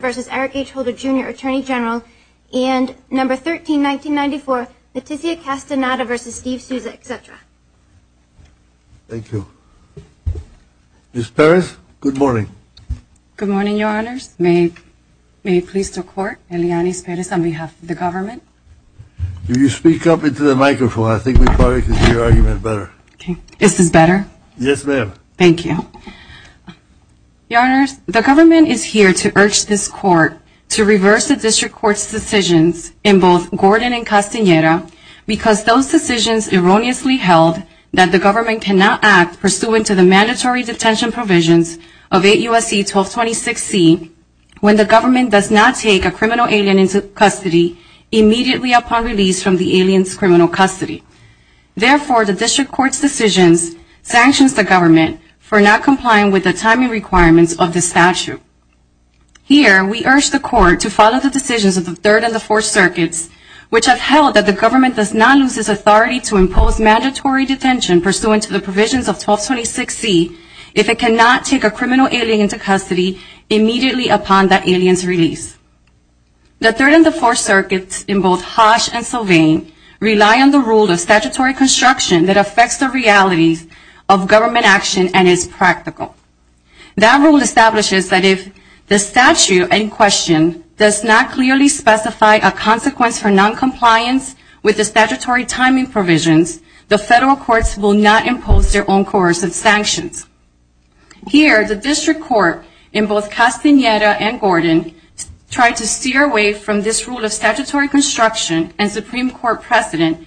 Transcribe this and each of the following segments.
v. Eric H. Holder, Jr., Attorney General, and No. 13-1994, Leticia Castaneda v. Steve Sousa, etc. Thank you. Ms. Perez, good morning. Good morning, Your Honors. May it please the Court, Eliane Perez on behalf of the government. Will you speak up into the microphone? I think we probably can hear your argument better. Okay. Is this better? Yes, ma'am. Thank you. Your Honors, the government is here to urge this Court to reverse the District Court's decisions in both Gordon and Castaneda because those decisions erroneously held that the government cannot act pursuant to the mandatory detention provisions of 8 U.S.C. 1226C when the government does not take a criminal alien into custody immediately upon release from the alien's criminal custody. Therefore, the District Court's decisions sanctions the government for not complying with the timing requirements of this statute. Here, we urge the Court to follow the decisions of the Third and the Fourth Circuits, which have held that the government does not lose its authority to impose mandatory detention pursuant to the provisions of 1226C if it cannot take a criminal alien into custody immediately upon that alien's release. The Third and the Fourth Circuits in both Hodge and Sylvain rely on the rule of statutory construction that affects the realities of government action and is practical. That rule establishes that if the statute in question does not clearly specify a consequence for noncompliance with the statutory timing provisions, the federal courts will not impose their own coercive sanctions. Here, the District Court in both Castaneda and Gordon tried to steer away from this rule of statutory construction and Supreme Court precedent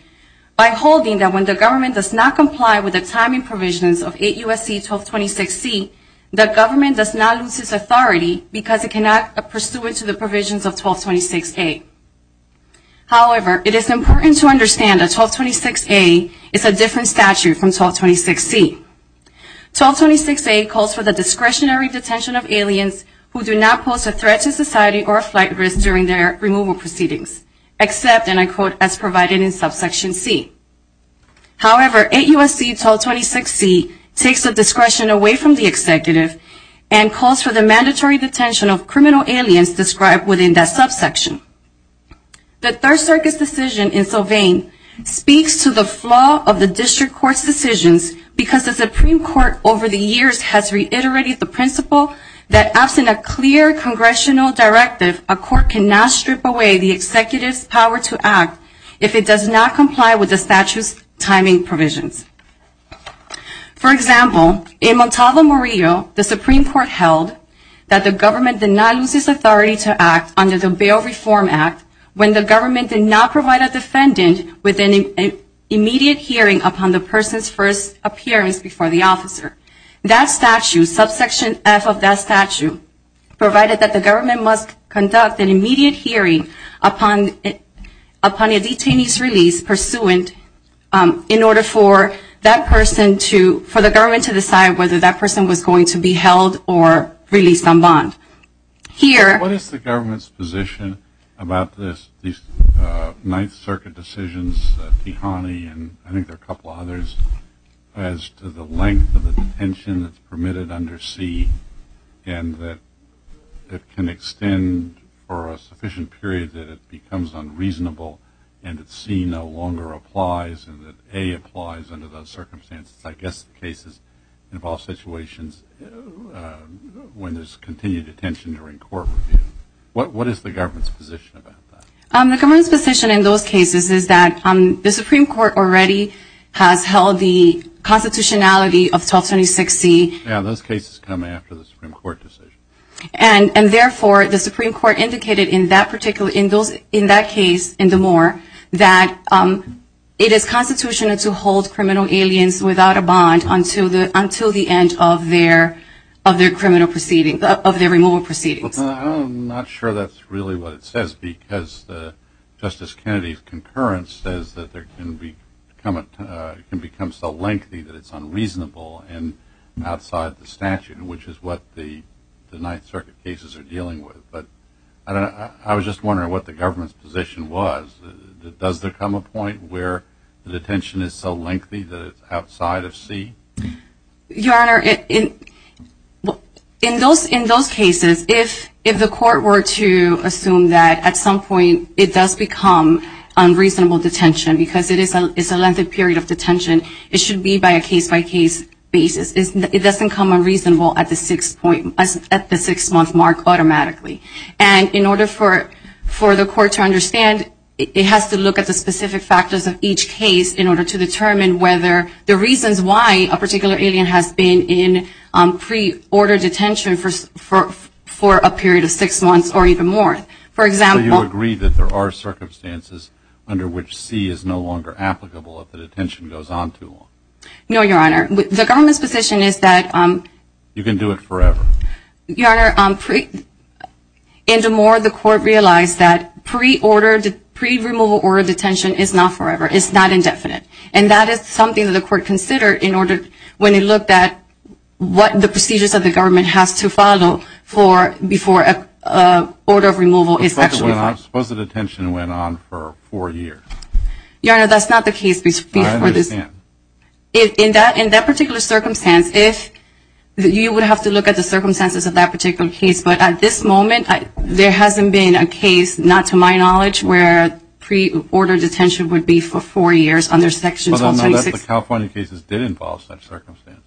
by holding that when the government does not comply with the timing provisions of 8 U.S.C. 1226C, the government does not lose its authority because it cannot act pursuant to the provisions of 1226A. However, it is important to understand that 1226A is a different statute from 1226C. 1226A calls for the discretionary detention of aliens who do not pose a threat to society or a flight risk during their removal proceedings except, and I quote, as provided in subsection C. However, 8 U.S.C. 1226C takes the discretion away from the executive and calls for the mandatory detention of criminal aliens described within that subsection. The Third Circuit's decision in Sylvain speaks to the flaw of the District Court's decisions because the Supreme Court over the years has reiterated the principle that absent a clear congressional directive, a court cannot strip away the executive's power to act if it does not comply with the statute's timing provisions. For example, in Montalvo, Murillo, the Supreme Court held that the government did not lose its authority to act under the bail reform act when the government did not provide a defendant with an immediate hearing upon the person's first appearance before the officer. That statute, subsection F of that statute, provided that the government must conduct an immediate hearing upon a detainee's release pursuant in order for that person to, for the government to decide whether that person was going to be held or released on bond. What is the government's position about these Ninth Circuit decisions, Tihani and I think there are a couple others, as to the length of the detention that's permitted under C and that it can extend for a sufficient period that it becomes unreasonable and that C no longer What is the government's position about that? The government's position in those cases is that the Supreme Court already has held the constitutionality of 1226C. Yeah, those cases come after the Supreme Court decision. And therefore, the Supreme Court indicated in that particular, in that case, in the Moore, that it is constitutional to hold criminal aliens without a bond until the end of their criminal proceedings, of their removal proceedings. I'm not sure that's really what it says because Justice Kennedy's concurrence says that it can become so lengthy that it's unreasonable and outside the statute, which is what the Ninth Circuit cases are dealing with. I was just wondering what the government's position was. Does there come a point where the detention is so lengthy that it's outside of C? Your Honor, in those cases, if the court were to assume that at some point it does become unreasonable detention because it is a lengthy it should be by a case-by-case basis. It doesn't come unreasonable at the six-month mark automatically. And in order for the court to understand, it has to look at the specific factors of each case in order to determine whether the reasons why a particular alien has been in pre-order detention for a period of six months or even more. So you agree that there are circumstances under which C is no longer applicable if the detention goes on too long? No, Your Honor. The government's position is that... You can do it forever. Your Honor, in the Moore, the court realized that pre-removal or detention is not forever. It's not indefinite. And that is something that the court considered when it looked at what the procedures of the government has to follow before an order of removal is actually filed. Suppose the detention went on for four years. Your Honor, that's not the case before this. I understand. In that particular circumstance, you would have to look at the circumstances of that particular case. But at this moment, there hasn't been a case, not to my knowledge, where pre-order detention would be for four years under Section 1226. But I know that the California cases did involve such circumstances.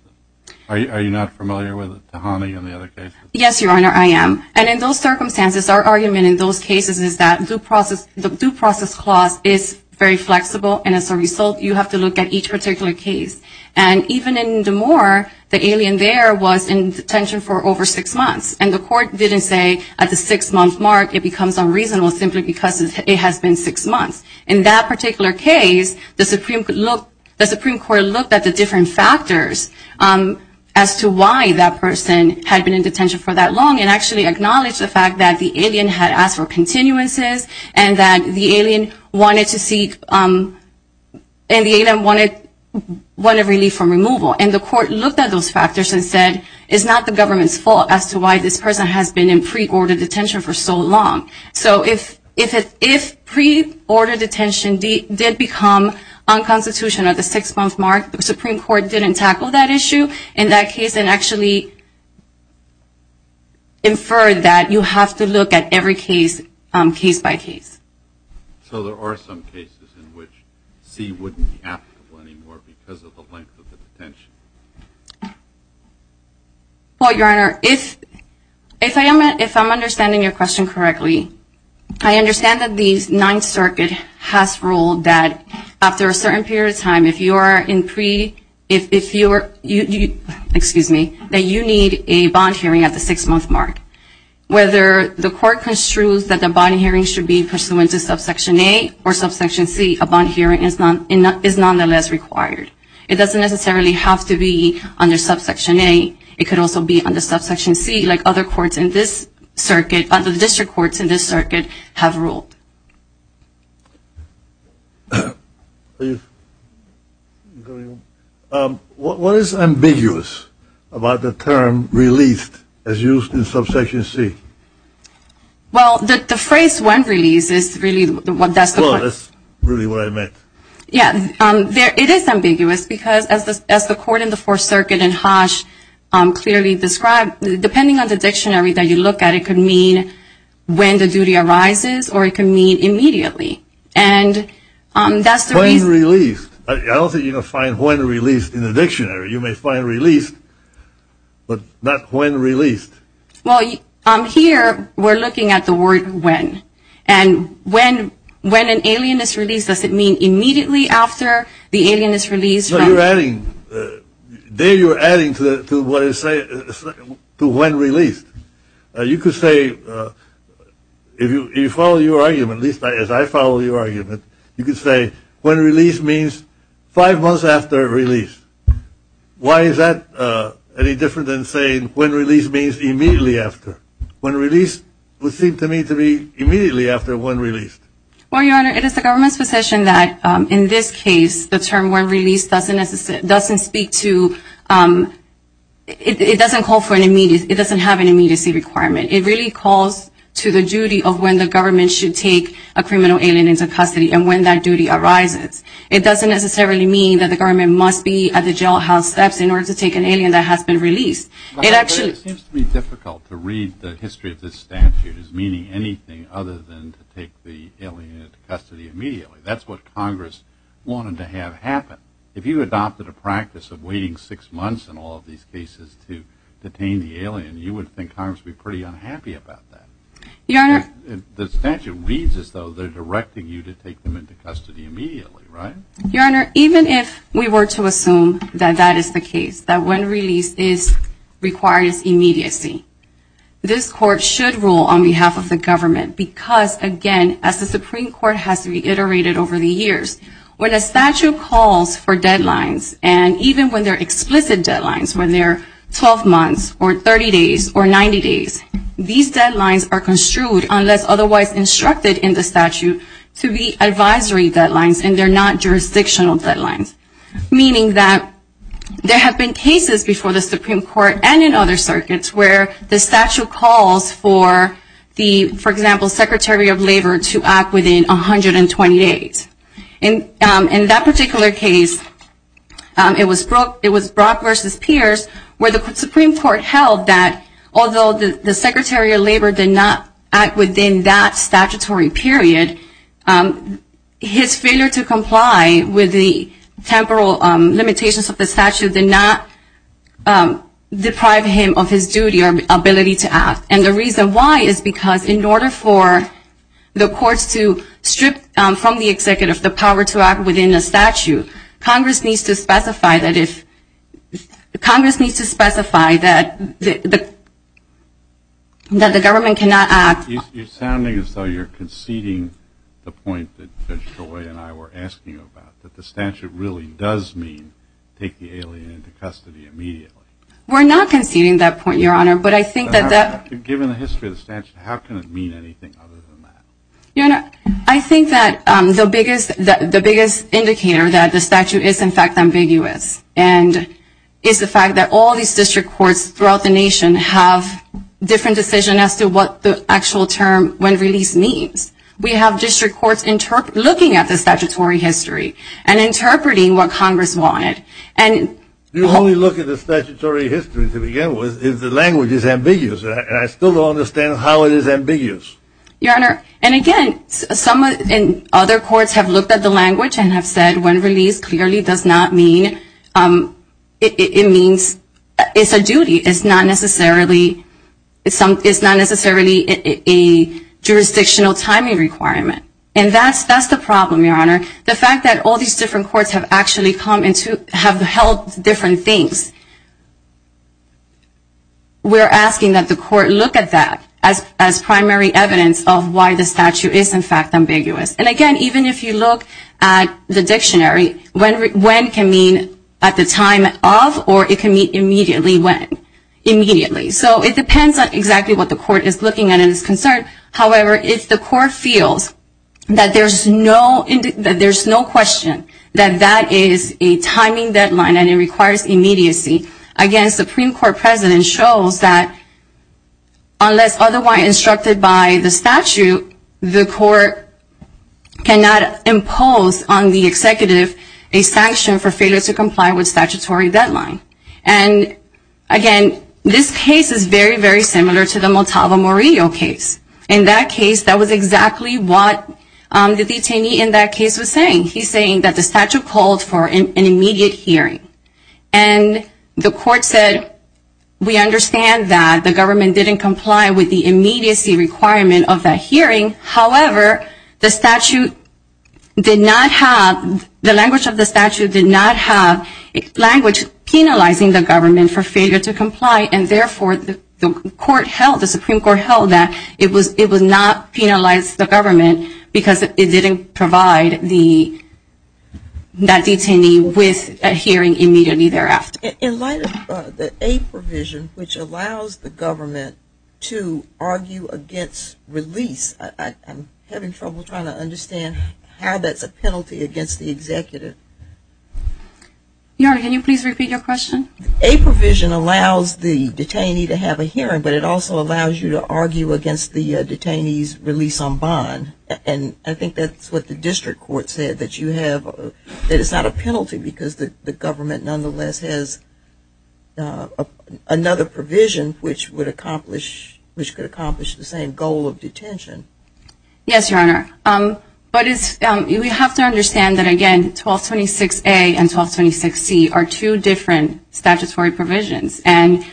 Are you not familiar with Tahani and the other cases? Yes, Your Honor, I am. And in those circumstances, our argument in those cases is that the due process clause is very flexible. And as a result, you have to look at each particular case. And even in the Moore, the alien there was in detention for over six months. And the court didn't say at the six-month mark it becomes unreasonable simply because it has been six months. In that particular case, the Supreme Court looked at the different factors as to why that person had been in detention for that long and actually acknowledged the fact that the alien had asked for continuances and that the alien wanted a relief from removal. And the court looked at those factors and said, it's not the government's fault as to why this person has been in pre-order detention for so long. So if pre-order detention did become unconstitutional at the six-month mark, the Supreme Court didn't tackle that issue in that case and actually inferred that you have to look at every case, case by case. So there are some cases in which C wouldn't be applicable anymore because of the length of the detention? Well, Your Honor, if I'm understanding your question correctly, I understand that the Ninth Circuit has ruled that after a certain period of time, if you are in pre-order detention, that you need a bond hearing at the six-month mark. Whether the court construes that the bond hearing should be pursuant to subsection A or subsection C, a bond hearing is nonetheless required. It doesn't necessarily have to be under subsection A. It could also be under subsection C like other courts in this circuit, other district courts in this circuit have ruled. What is ambiguous about the term released as used in subsection C? Well, the phrase when released is really what that's the point. That's really what I meant. Yeah. It is ambiguous because as the court in the Fourth Circuit and Hodge clearly described, depending on the dictionary that you look at, it could mean when the duty arises or it could mean immediately. When released. I don't think you can find when released in the dictionary. You may find released, but not when released. Well, here we're looking at the word when. And when an alien is released, does it mean immediately after the alien is released? No, you're adding. There you're adding to when released. You could say if you follow your argument, at least as I follow your argument, you could say when released means five months after release. Why is that any different than saying when released means immediately after? When released would seem to me to be immediately after when released. Well, Your Honor, it is the government's position that in this case the term when released doesn't speak to, it doesn't call for an immediate, it doesn't have an immediacy requirement. It really calls to the duty of when the government should take a criminal alien into custody and when that duty arises. It doesn't necessarily mean that the government must be at the jailhouse steps in order to take an alien that has been released. It actually It seems to me difficult to read the history of this statute as meaning anything other than to take the alien into custody immediately. That's what Congress wanted to have happen. If you adopted a practice of waiting six months in all of these cases to detain the alien, you would think Congress would be pretty unhappy about that. Your Honor The statute reads as though they're directing you to take them into custody immediately, right? Your Honor, even if we were to assume that that is the case, that when released requires immediacy, this court should rule on behalf of the government because, again, as the Supreme Court has reiterated over the years, when a statute calls for deadlines, and even when they're explicit deadlines, when they're 12 months or 30 days or 90 days, these deadlines are construed, unless otherwise instructed in the statute, to be advisory deadlines, and they're not jurisdictional deadlines, meaning that there have been cases before the Supreme Court and in other circuits where the statute calls for the, for example, Secretary of Labor to act within 128 days. In that particular case, it was Brock v. Pierce, where the Supreme Court held that, although the Secretary of Labor did not act within that statutory period, his failure to comply with the temporal limitations of the statute did not deprive him of his duty or ability to act. And the reason why is because in order for the courts to strip from the executive the power to act within a statute, Congress needs to specify that if, Congress needs to specify that the government cannot act. You're sounding as though you're conceding the point that Judge Joy and I were asking about, that the statute really does mean take the alien into custody immediately. We're not conceding that point, Your Honor, but I think that that... Given the history of the statute, how can it mean anything other than that? Your Honor, I think that the biggest indicator that the statute is, in fact, ambiguous is the fact that all these district courts throughout the nation have different decisions as to what the actual term, when released, means. We have district courts looking at the statutory history and interpreting what Congress wanted. The only look at the statutory history, to begin with, is the language is ambiguous. And I still don't understand how it is ambiguous. Your Honor, and again, other courts have looked at the language and have said, when released clearly does not mean, it's a duty. It's not necessarily a jurisdictional timing requirement. And that's the problem, Your Honor. The fact that all these different courts have actually come into, have held different things. We're asking that the court look at that as primary evidence of why the statute is, in fact, ambiguous. And again, even if you look at the dictionary, when can mean at the time of, or it can mean immediately when. Immediately. So it depends on exactly what the court is looking at and is concerned. However, if the court feels that there's no question that that is a timing deadline and it requires immediacy, again, Supreme Court precedent shows that unless otherwise instructed by the statute, the court cannot impose on the executive a sanction for failure to comply with statutory deadline. And again, this case is very, very similar to the Motava Morillo case. In that case, that was exactly what the detainee in that case was saying. He's saying that the statute called for an immediate hearing. And the court said, we understand that the government didn't comply with the immediacy requirement of that hearing. However, the statute did not have, the language of the statute did not have language penalizing the government for failure to comply. And therefore, the court held, the Supreme Court held that it was not penalizing the government because it didn't provide that detainee with a hearing immediately thereafter. In light of the A provision, which allows the government to argue against release, I'm having trouble trying to understand how that's a penalty against the executive. Can you please repeat your question? A provision allows the detainee to have a hearing, but it also allows you to argue against the detainee's release on bond. And I think that's what the district court said, that you have, that it's not a penalty because the government nonetheless has another provision which would accomplish, which could accomplish the same goal of detention. Yes, Your Honor. But we have to understand that, again, 1226A and 1226C are two different statutory provisions. And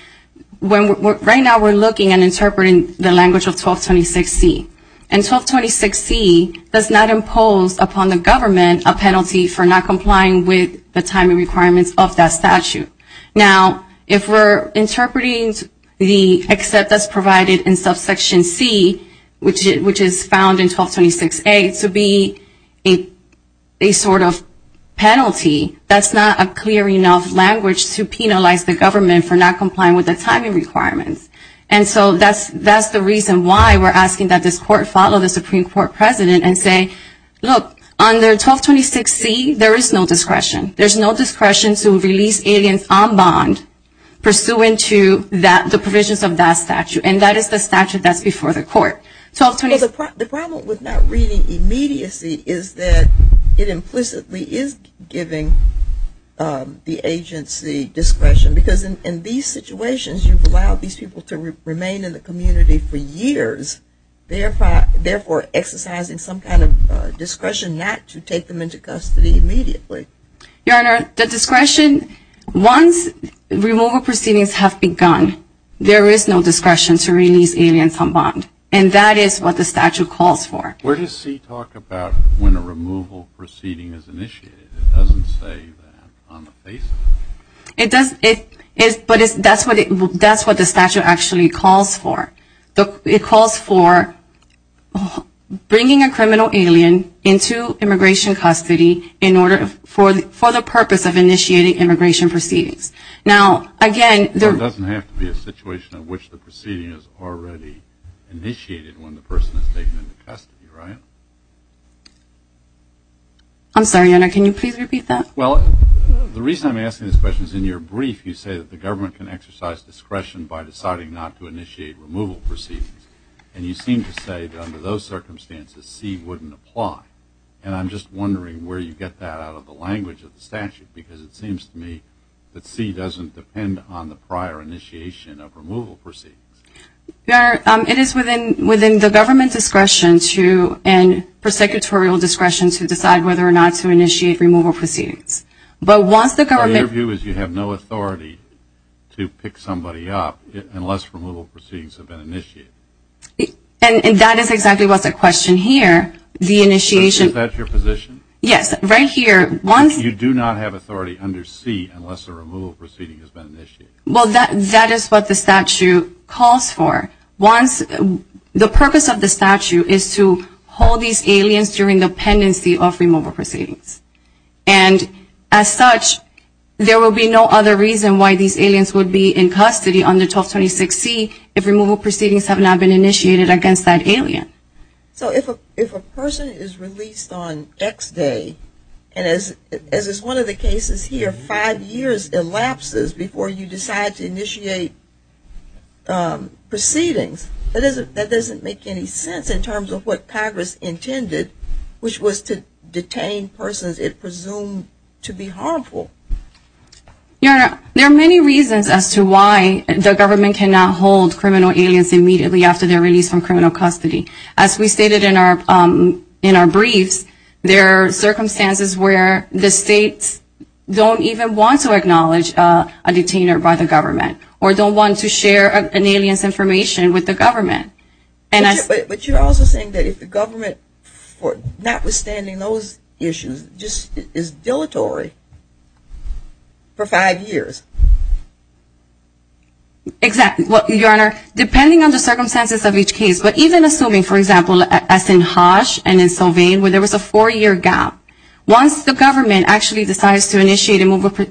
right now we're looking and interpreting the language of 1226C. And 1226C does not impose upon the government a penalty for not complying with the timing requirements of that statute. Now, if we're interpreting the except that's provided in subsection C, which is found in 1226A to be a sort of penalty, that's not a clear enough language to penalize the government for not complying with the timing requirements. And so that's the reason why we're asking that this court follow the Supreme Court president and say, look, under 1226C there is no discretion. There's no discretion to release aliens on bond pursuant to the provisions of that statute. And that is the statute that's before the court. The problem with not reading immediacy is that it implicitly is giving the agency discretion. Because in these situations you've allowed these people to remain in the community for years, therefore exercising some kind of discretion not to take them into custody immediately. Your Honor, the discretion, once removal proceedings have begun, there is no discretion to release aliens on bond. And that is what the statute calls for. Where does C talk about when a removal proceeding is initiated? It doesn't say that on the basis. It does, but that's what the statute actually calls for. It calls for bringing a criminal alien into immigration custody for the purpose of initiating immigration proceedings. Now, again. It doesn't have to be a situation in which the proceeding is already initiated when the person is taken into custody, right? I'm sorry, Your Honor, can you please repeat that? Well, the reason I'm asking this question is in your brief you say that the government can exercise discretion by deciding not to initiate removal proceedings. And you seem to say that under those circumstances C wouldn't apply. And I'm just wondering where you get that out of the language of the statute, because it seems to me that C doesn't depend on the prior initiation of removal proceedings. Your Honor, it is within the government discretion to and prosecutorial discretion to decide whether or not to initiate removal proceedings. But once the government But your view is you have no authority to pick somebody up unless removal proceedings have been initiated. And that is exactly what the question here. The initiation Is that your position? Yes, right here. You do not have authority under C unless a removal proceeding has been initiated. Well, that is what the statute calls for. The purpose of the statute is to hold these aliens during the pendency of removal proceedings. And as such, there will be no other reason why these aliens would be in custody under 1226C if removal proceedings have not been initiated against that alien. So if a person is released on X day, and as is one of the cases here, five years elapses before you decide to initiate proceedings, that doesn't make any sense in terms of what Congress intended, which was to detain persons it presumed to be harmful. Your Honor, there are many reasons as to why the government cannot hold criminal aliens immediately after they're released from criminal custody. As we stated in our briefs, there are circumstances where the states don't even want to acknowledge a detainer by the government or don't want to share an alien's information with the government. But you're also saying that if the government, notwithstanding those issues, just is dilatory for five years. Exactly. Your Honor, depending on the circumstances of each case, but even assuming, for example, as in Hodge and in Sylvain, where there was a four-year gap, once the government actually decides to initiate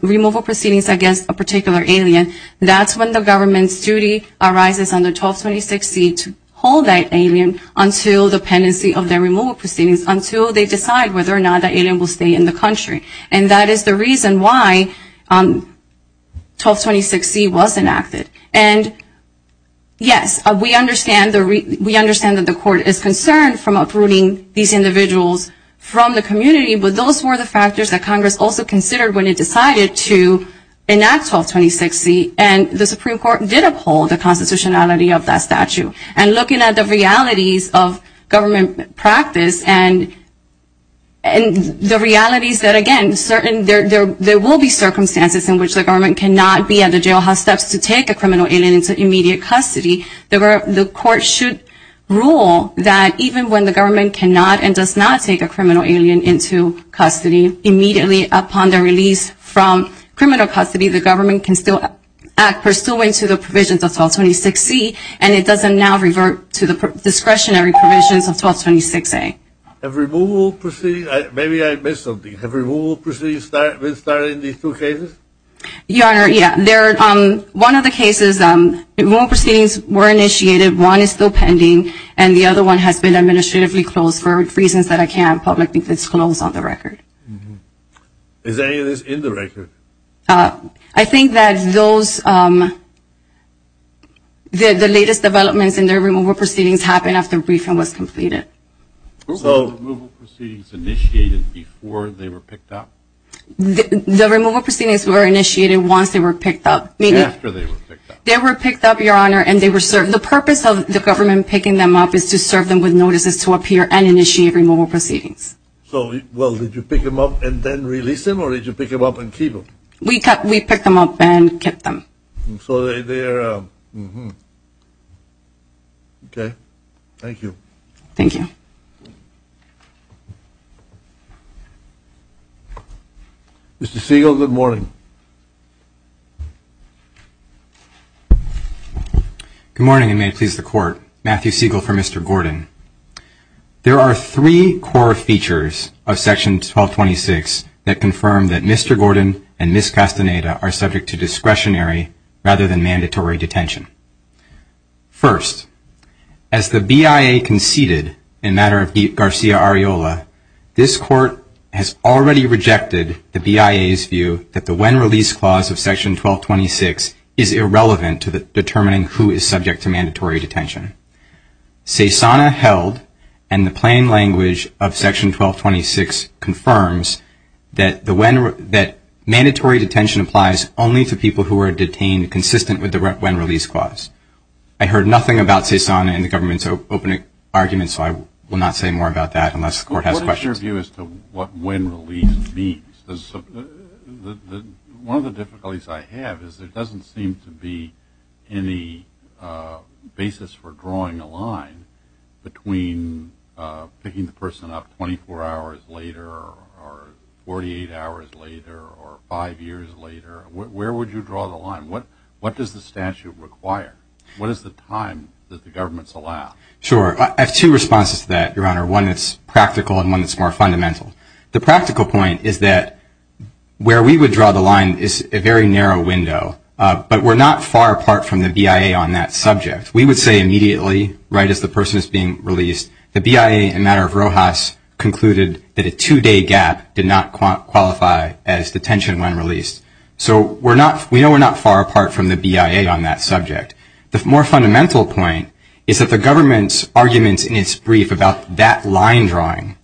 removal proceedings against a particular alien, that's when the government's duty arises under 1226C to hold that alien until the pendency of their removal proceedings, until they decide whether or not that alien will stay in the country. And that is the reason why 1226C was enacted. And yes, we understand that the court is concerned from uprooting these individuals from the community, but those were the factors that Congress also considered when it decided to enact 1226C. And the Supreme Court did uphold the constitutionality of that statute. And looking at the realities of government practice and the realities that, again, there will be circumstances in which the government cannot be at the jailhouse steps to take a criminal alien into immediate custody. The court should rule that even when the government cannot and does not take a criminal alien into custody, immediately upon their release from criminal custody, the government can still act pursuant to the provisions of 1226C, and it doesn't now revert to the discretionary provisions of 1226A. Have removal proceedings – maybe I missed something. Have removal proceedings been started in these two cases? Your Honor, yeah. One of the cases, removal proceedings were initiated. One is still pending, and the other one has been administratively closed for reasons that I can't publicly disclose on the record. Is any of this in the record? I think that those – the latest developments in the removal proceedings happened after briefing was completed. Were all the removal proceedings initiated before they were picked up? The removal proceedings were initiated once they were picked up. After they were picked up. They were picked up, Your Honor, and they were served. The purpose of the government picking them up is to serve them with notices to appear and initiate removal proceedings. So, well, did you pick them up and then release them, or did you pick them up and keep them? We picked them up and kept them. So they're – okay. Thank you. Thank you. Mr. Siegel, good morning. Good morning, and may it please the Court. Matthew Siegel for Mr. Gordon. There are three core features of Section 1226 that confirm that Mr. Gordon and Ms. Castaneda are subject to discretionary rather than mandatory detention. First, as the BIA conceded in matter of Garcia-Ariola, this Court has already rejected the BIA's view that the when-release clause of Section 1226 is irrelevant to determining who is subject to mandatory detention. CESANA held, and the plain language of Section 1226 confirms, that mandatory detention applies only to people who are detained consistent with the when-release clause. I heard nothing about CESANA in the government's opening argument, so I will not say more about that unless the Court has questions. What is your view as to what when-release means? One of the difficulties I have is there doesn't seem to be any basis for drawing a line between picking the person up 24 hours later or 48 hours later or five years later. Where would you draw the line? What does the statute require? What is the time that the governments allow? I have two responses to that, Your Honor, one that's practical and one that's more fundamental. The practical point is that where we would draw the line is a very narrow window, but we're not far apart from the BIA on that subject. We would say immediately, right as the person is being released, the BIA in matter of Rojas concluded that a two-day gap did not qualify as detention when released. So we know we're not far apart from the BIA on that subject. The more fundamental point is that the government's arguments in its brief about that line drawing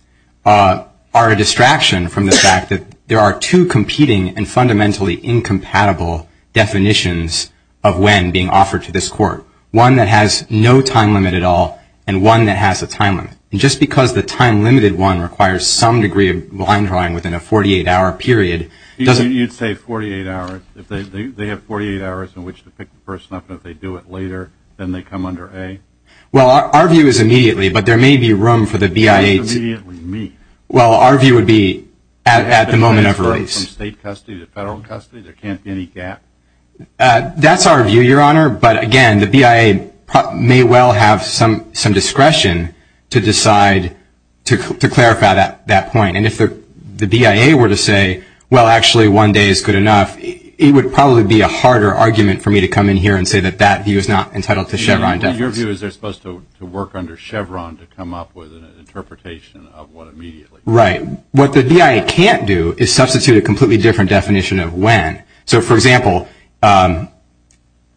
are a distraction from the fact that there are two competing and fundamentally incompatible definitions of when being offered to this Court, one that has no time limit at all and one that has a time limit. And just because the time-limited one requires some degree of line drawing within a 48-hour period doesn't... You'd say 48 hours, if they have 48 hours in which to pick the person up, and if they do it later, then they come under A? Well, our view is immediately, but there may be room for the BIA to... Not immediately meet. Well, our view would be at the moment of release. From state custody to federal custody, there can't be any gap? That's our view, Your Honor. But, again, the BIA may well have some discretion to decide to clarify that point. And if the BIA were to say, well, actually one day is good enough, it would probably be a harder argument for me to come in here and say that that view is not entitled to Chevron defense. Your view is they're supposed to work under Chevron to come up with an interpretation of what immediately... Right. What the BIA can't do is substitute a completely different definition of when. So, for example,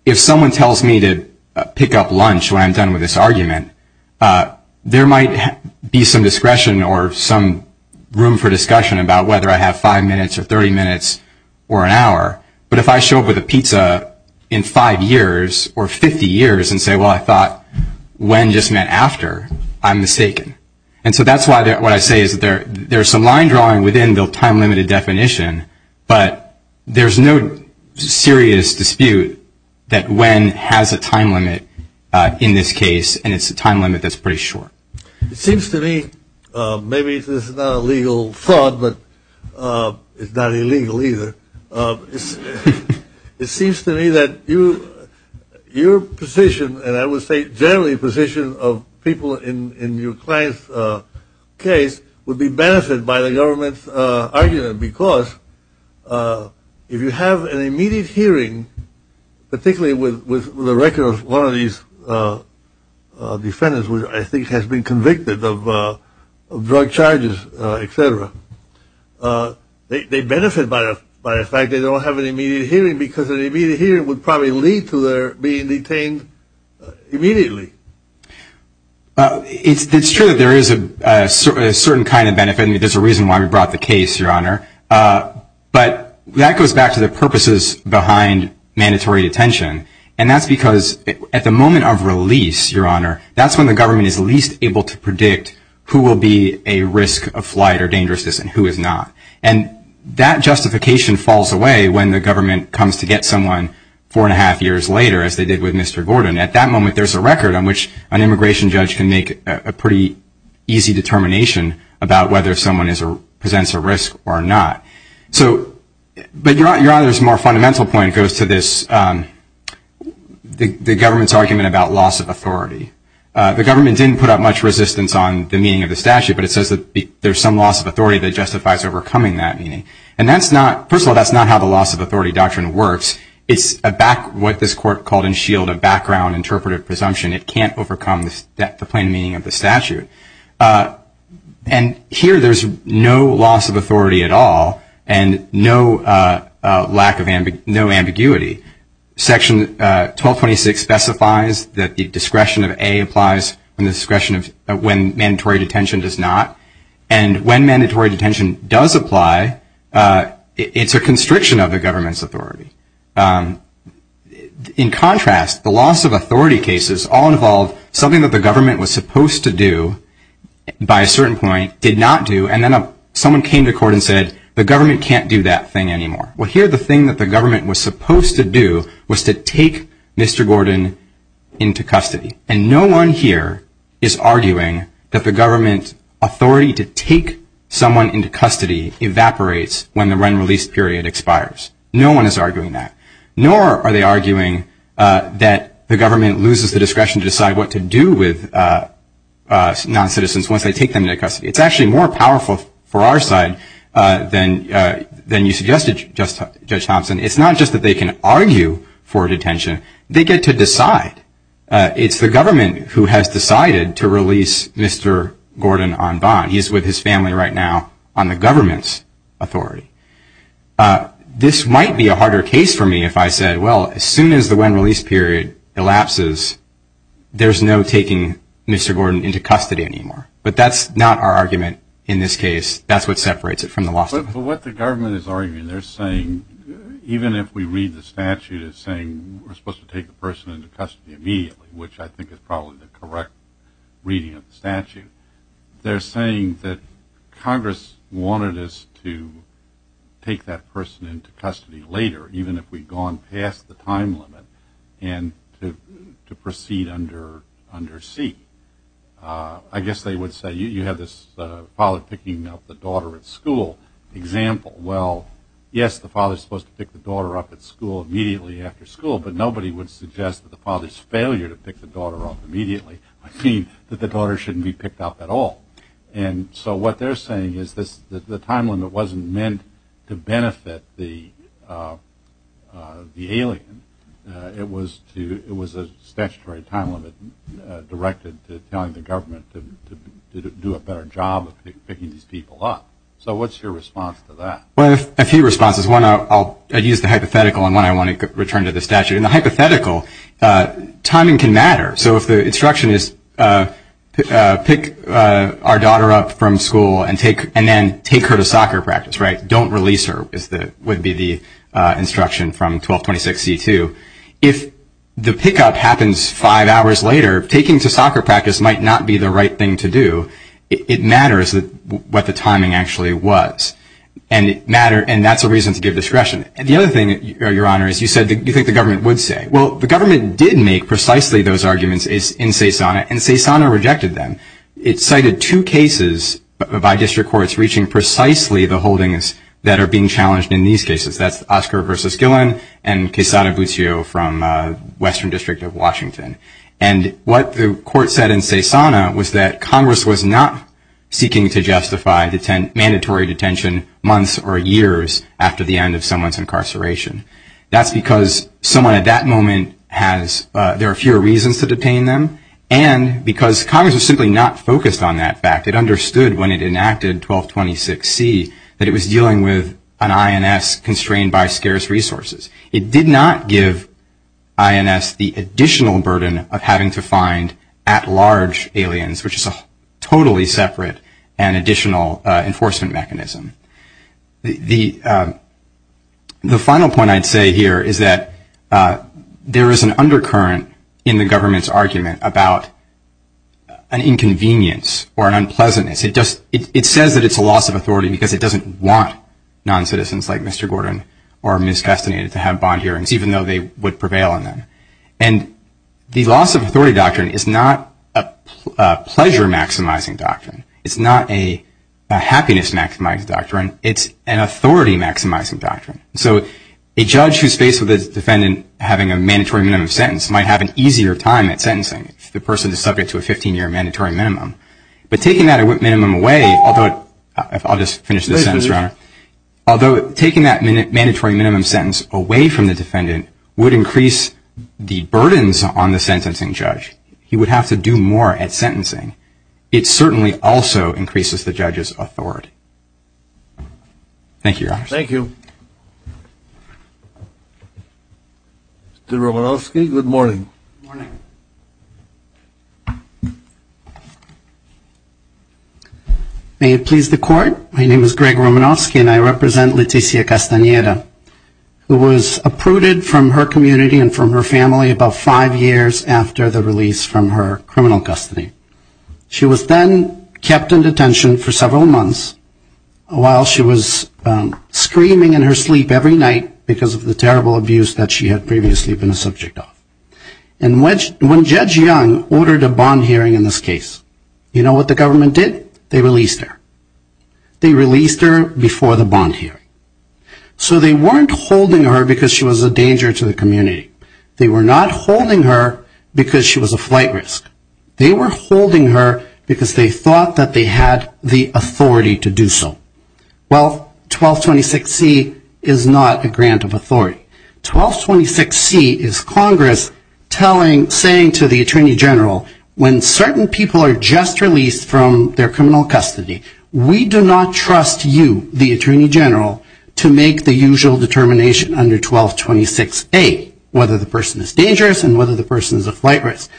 if someone tells me to pick up lunch when I'm done with this argument, there might be some discretion or some room for discussion about whether I have five minutes or 30 minutes or an hour. But if I show up with a pizza in five years or 50 years and say, well, I thought when just meant after, I'm mistaken. And so that's why what I say is there's some line drawing within the time-limited definition, but there's no serious dispute that when has a time limit in this case, and it's a time limit that's pretty short. It seems to me, maybe this is not a legal thought, but it's not illegal either. It seems to me that your position, and I would say generally the position of people in your client's case, would be benefited by the government's argument because if you have an immediate hearing, particularly with the record of one of these defendants, which I think has been convicted of drug charges, et cetera, they benefit by the fact they don't have an immediate hearing because an immediate hearing would probably lead to their being detained immediately. It's true that there is a certain kind of benefit, and there's a reason why we brought the case, Your Honor. But that goes back to the purposes behind mandatory detention. And that's because at the moment of release, Your Honor, that's when the government is least able to predict who will be a risk of flight or dangerousness and who is not. And that justification falls away when the government comes to get someone four and a half years later, as they did with Mr. Gordon. At that moment, there's a record on which an immigration judge can make a pretty easy determination about whether someone presents a risk or not. So, but Your Honor's more fundamental point goes to this, the government's argument about loss of authority. The government didn't put up much resistance on the meaning of the statute, but it says that there's some loss of authority that justifies overcoming that meaning. And that's not, first of all, that's not how the loss of authority doctrine works. It's what this court called in Shield a background interpretive presumption. It can't overcome the plain meaning of the statute. And here there's no loss of authority at all, and no lack of ambiguity. Section 1226 specifies that the discretion of A applies when mandatory detention does not. And when mandatory detention does apply, it's a constriction of the government's authority. In contrast, the loss of authority cases all involve something that the government was supposed to do, by a certain point, did not do, and then someone came to court and said, the government can't do that thing anymore. Well, here the thing that the government was supposed to do was to take Mr. Gordon into custody. And no one here is arguing that the government's authority to take someone into custody evaporates when the run-release period expires. No one is arguing that. Nor are they arguing that the government loses the discretion to decide what to do with noncitizens once they take them into custody. It's actually more powerful for our side than you suggested, Judge Thompson. It's not just that they can argue for detention. They get to decide. It's the government who has decided to release Mr. Gordon on bond. He's with his family right now on the government's authority. This might be a harder case for me if I said, well, as soon as the run-release period elapses, there's no taking Mr. Gordon into custody anymore. But that's not our argument in this case. That's what separates it from the loss of authority. But what the government is arguing, they're saying, even if we read the statute, it's saying we're supposed to take the person into custody immediately, which I think is probably the correct reading of the statute. They're saying that Congress wanted us to take that person into custody later, even if we'd gone past the time limit, and to proceed under seat. I guess they would say, you have this father picking up the daughter at school example. Well, yes, the father is supposed to pick the daughter up at school immediately after school, but nobody would suggest that the father's failure to pick the daughter up immediately would mean that the daughter shouldn't be picked up at all. And so what they're saying is the time limit wasn't meant to benefit the alien. It was a statutory time limit directed to telling the government to do a better job of picking these people up. So what's your response to that? Well, a few responses. One, I'll use the hypothetical, and one I want to return to the statute. In the hypothetical, timing can matter. So if the instruction is pick our daughter up from school and then take her to soccer practice, right, don't release her, would be the instruction from 1226C2. If the pickup happens five hours later, taking to soccer practice might not be the right thing to do. So it matters what the timing actually was, and that's a reason to give discretion. And the other thing, Your Honor, is you said you think the government would say. Well, the government did make precisely those arguments in CESANA, and CESANA rejected them. It cited two cases by district courts reaching precisely the holdings that are being challenged in these cases. That's Oscar v. Gillen and Quesada Buccio from Western District of Washington. And what the court said in CESANA was that Congress was not seeking to justify the mandatory detention months or years after the end of someone's incarceration. That's because someone at that moment has, there are fewer reasons to detain them, and because Congress was simply not focused on that fact. It understood when it enacted 1226C that it was dealing with an INS constrained by scarce resources. It did not give INS the additional burden of having to find at-large aliens, which is a totally separate and additional enforcement mechanism. The final point I'd say here is that there is an undercurrent in the government's argument about an inconvenience or an unpleasantness. It says that it's a loss of authority because it doesn't want non-citizens like Mr. Gordon or Ms. Castaneda to have bond hearings, even though they would prevail in them. And the loss of authority doctrine is not a pleasure-maximizing doctrine. It's not a happiness-maximizing doctrine. It's an authority-maximizing doctrine. So a judge who's faced with a defendant having a mandatory minimum sentence might have an easier time at sentencing if the person is subject to a 15-year mandatory minimum. But taking that minimum away, although taking that mandatory minimum sentence away from the defendant would increase the burdens on the sentencing judge. He would have to do more at sentencing. It certainly also increases the judge's authority. Thank you, Your Honor. Thank you. Mr. Romanowski, good morning. Good morning. May it please the Court, my name is Greg Romanowski and I represent Leticia Castaneda, who was uprooted from her community and from her family about five years after the release from her criminal custody. She was then kept in detention for several months while she was screaming in her sleep every night because of the terrible abuse that she had previously been a subject of. And when Judge Young ordered a bond hearing in this case, you know what the government did? They released her. They released her before the bond hearing. So they weren't holding her because she was a danger to the community. They were not holding her because she was a flight risk. They were holding her because they thought that they had the authority to do so. Well, 1226C is not a grant of authority. 1226C is Congress saying to the Attorney General, when certain people are just released from their criminal custody, we do not trust you, the Attorney General, to make the usual determination under 1226A, whether the person is dangerous and whether the person is a flight risk.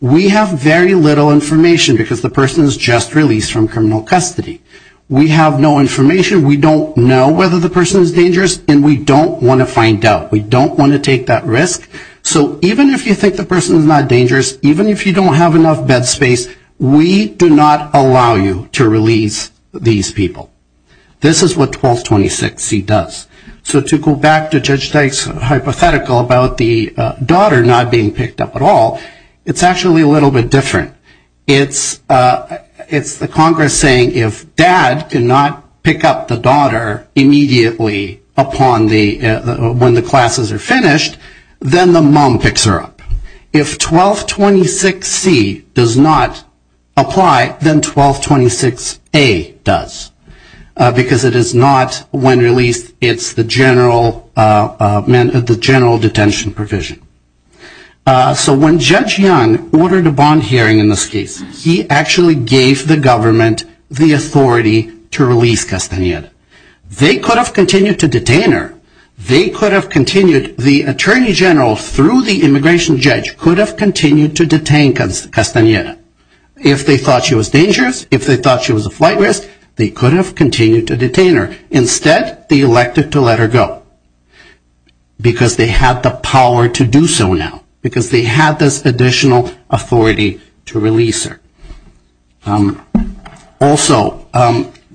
We have very little information because the person is just released from criminal custody. We have no information. We don't know whether the person is dangerous, and we don't want to find out. We don't want to take that risk. So even if you think the person is not dangerous, even if you don't have enough bed space, we do not allow you to release these people. This is what 1226C does. So to go back to Judge Dyke's hypothetical about the daughter not being picked up at all, it's actually a little bit different. It's the Congress saying if dad cannot pick up the daughter immediately upon the when the classes are finished, then the mom picks her up. If 1226C does not apply, then 1226A does, because it is not when released, it's the general detention provision. So when Judge Young ordered a bond hearing in this case, he actually gave the government the authority to release Castaneda. They could have continued to detain her. They could have continued, the Attorney General through the immigration judge, could have continued to detain Castaneda. If they thought she was dangerous, if they thought she was a flight risk, they could have continued to detain her. Instead, they elected to let her go, because they had the power to do so now, because they had this additional authority to release her. Also,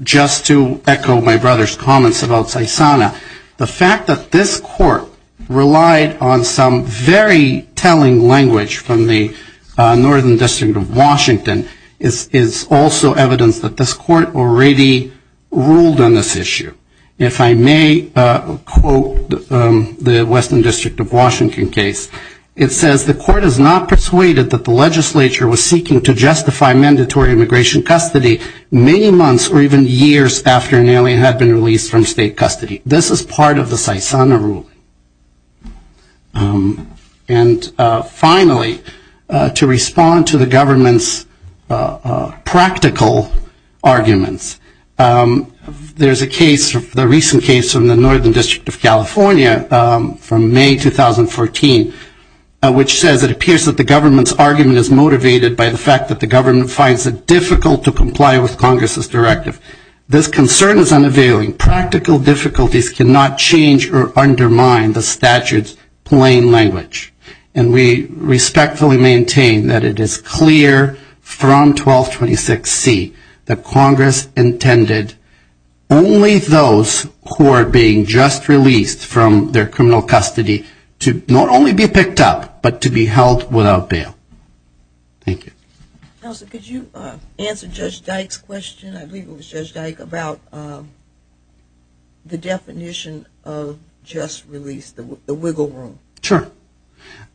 just to echo my brother's comments about Saisana, the fact that this court relied on some very telling language from the Northern District of Washington is also evidence that this court already ruled on this issue. If I may quote the Western District of Washington case, it says, the court is not persuaded that the legislature was seeking to justify mandatory immigration custody many months or even years after an alien had been released from state custody. This is part of the Saisana ruling. And finally, to respond to the government's practical arguments, there's a case, the recent case from the Northern District of California from May 2014, which says it appears that the government's argument is motivated by the fact that the government finds it difficult to comply with Congress's directive. This concern is unavailing. And practical difficulties cannot change or undermine the statute's plain language. And we respectfully maintain that it is clear from 1226C that Congress intended only those who are being just released from their criminal custody to not only be picked up, but to be held without bail. Thank you. Counsel, could you answer Judge Dyke's question? I believe it was Judge Dyke, about the definition of just release, the wiggle room. Sure.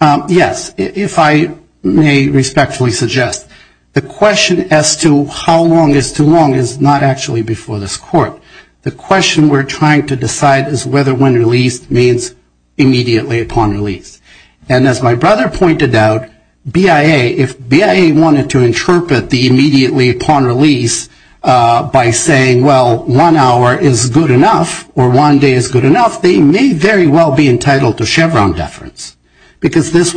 Yes. If I may respectfully suggest, the question as to how long is too long is not actually before this court. The question we're trying to decide is whether when released means immediately upon release. And as my brother pointed out, BIA, if BIA wanted to interpret the immediately upon release by saying, well, one hour is good enough, or one day is good enough, they may very well be entitled to Chevron deference. Because this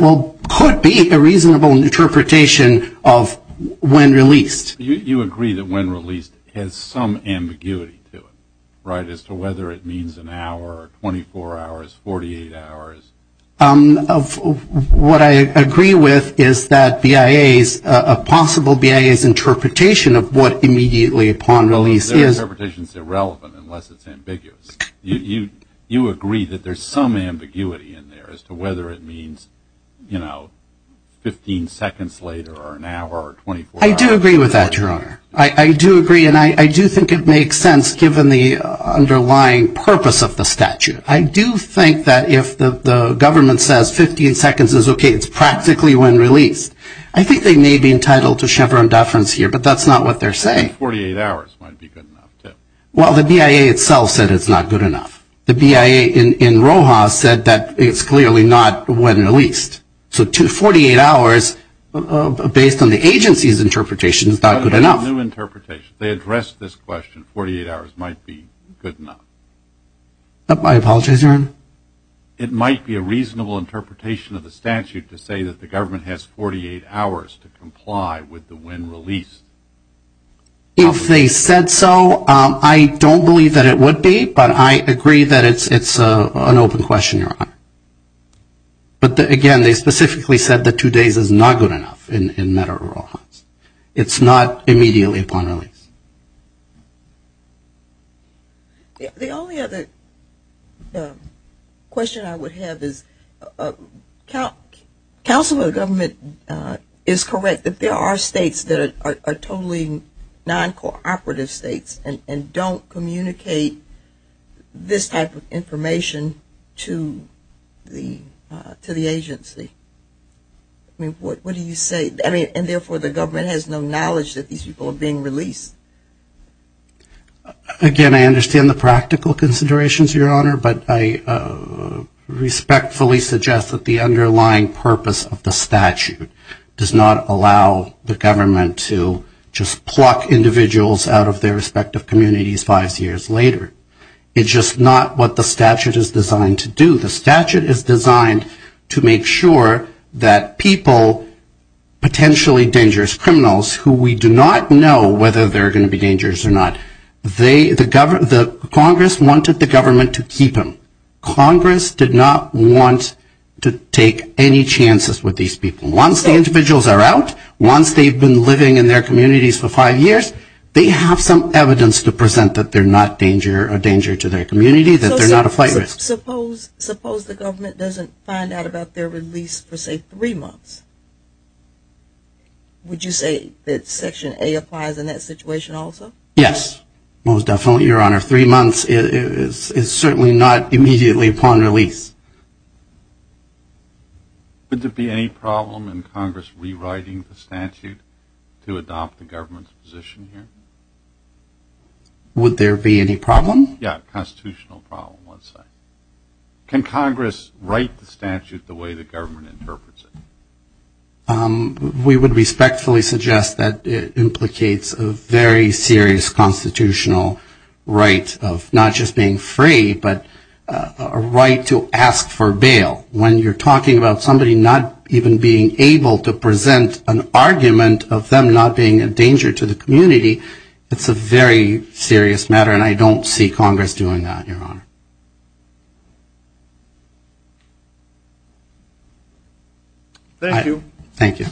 could be a reasonable interpretation of when released. You agree that when released has some ambiguity to it, right, as to whether it means an hour, 24 hours, 48 hours? What I agree with is that BIA's, a possible BIA's interpretation of what immediately upon release is. Their interpretation is irrelevant unless it's ambiguous. You agree that there's some ambiguity in there as to whether it means, you know, 15 seconds later or an hour or 24 hours. I do agree with that, Your Honor. I do agree, and I do think it makes sense given the underlying purpose of the statute. I do think that if the government says 15 seconds is okay, it's practically when released. I think they may be entitled to Chevron deference here, but that's not what they're saying. 48 hours might be good enough, too. Well, the BIA itself said it's not good enough. The BIA in Rojas said that it's clearly not when released. So 48 hours, based on the agency's interpretation, is not good enough. They addressed this question, 48 hours might be good enough. I apologize, Your Honor. It might be a reasonable interpretation of the statute to say that the government has 48 hours to comply with the when released. If they said so, I don't believe that it would be, but I agree that it's an open question, Your Honor. But, again, they specifically said that two days is not good enough in matter of Rojas. It's not immediately upon release. The only other question I would have is, counsel of the government is correct that there are states that are totally non-cooperative states and don't communicate this type of information to the agency. I mean, what do you say? I mean, and, therefore, the government has no knowledge that these people are being released. Again, I understand the practical considerations, Your Honor, but I respectfully suggest that the underlying purpose of the statute does not allow the government to just pluck individuals out of their respective communities five years later. It's just not what the statute is designed to do. The statute is designed to make sure that people, potentially dangerous criminals, who we do not know whether they're going to be dangerous or not, the Congress wanted the government to keep them. Congress did not want to take any chances with these people. Once the individuals are out, once they've been living in their communities for five years, they have some evidence to present that they're not a danger to their community, that they're not a flight risk. Suppose the government doesn't find out about their release for, say, three months. Would you say that Section A applies in that situation also? Yes, most definitely, Your Honor. Three months is certainly not immediately upon release. Would there be any problem in Congress rewriting the statute to adopt the government's position here? Would there be any problem? Yeah, constitutional problem, let's say. Can Congress write the statute the way the government interprets it? We would respectfully suggest that it implicates a very serious constitutional right of not just being free, but a right to ask for bail. When you're talking about somebody not even being able to present an argument of them not being a danger to the community, it's a very serious matter, and I don't see Congress doing that, Your Honor. Thank you. Thank you.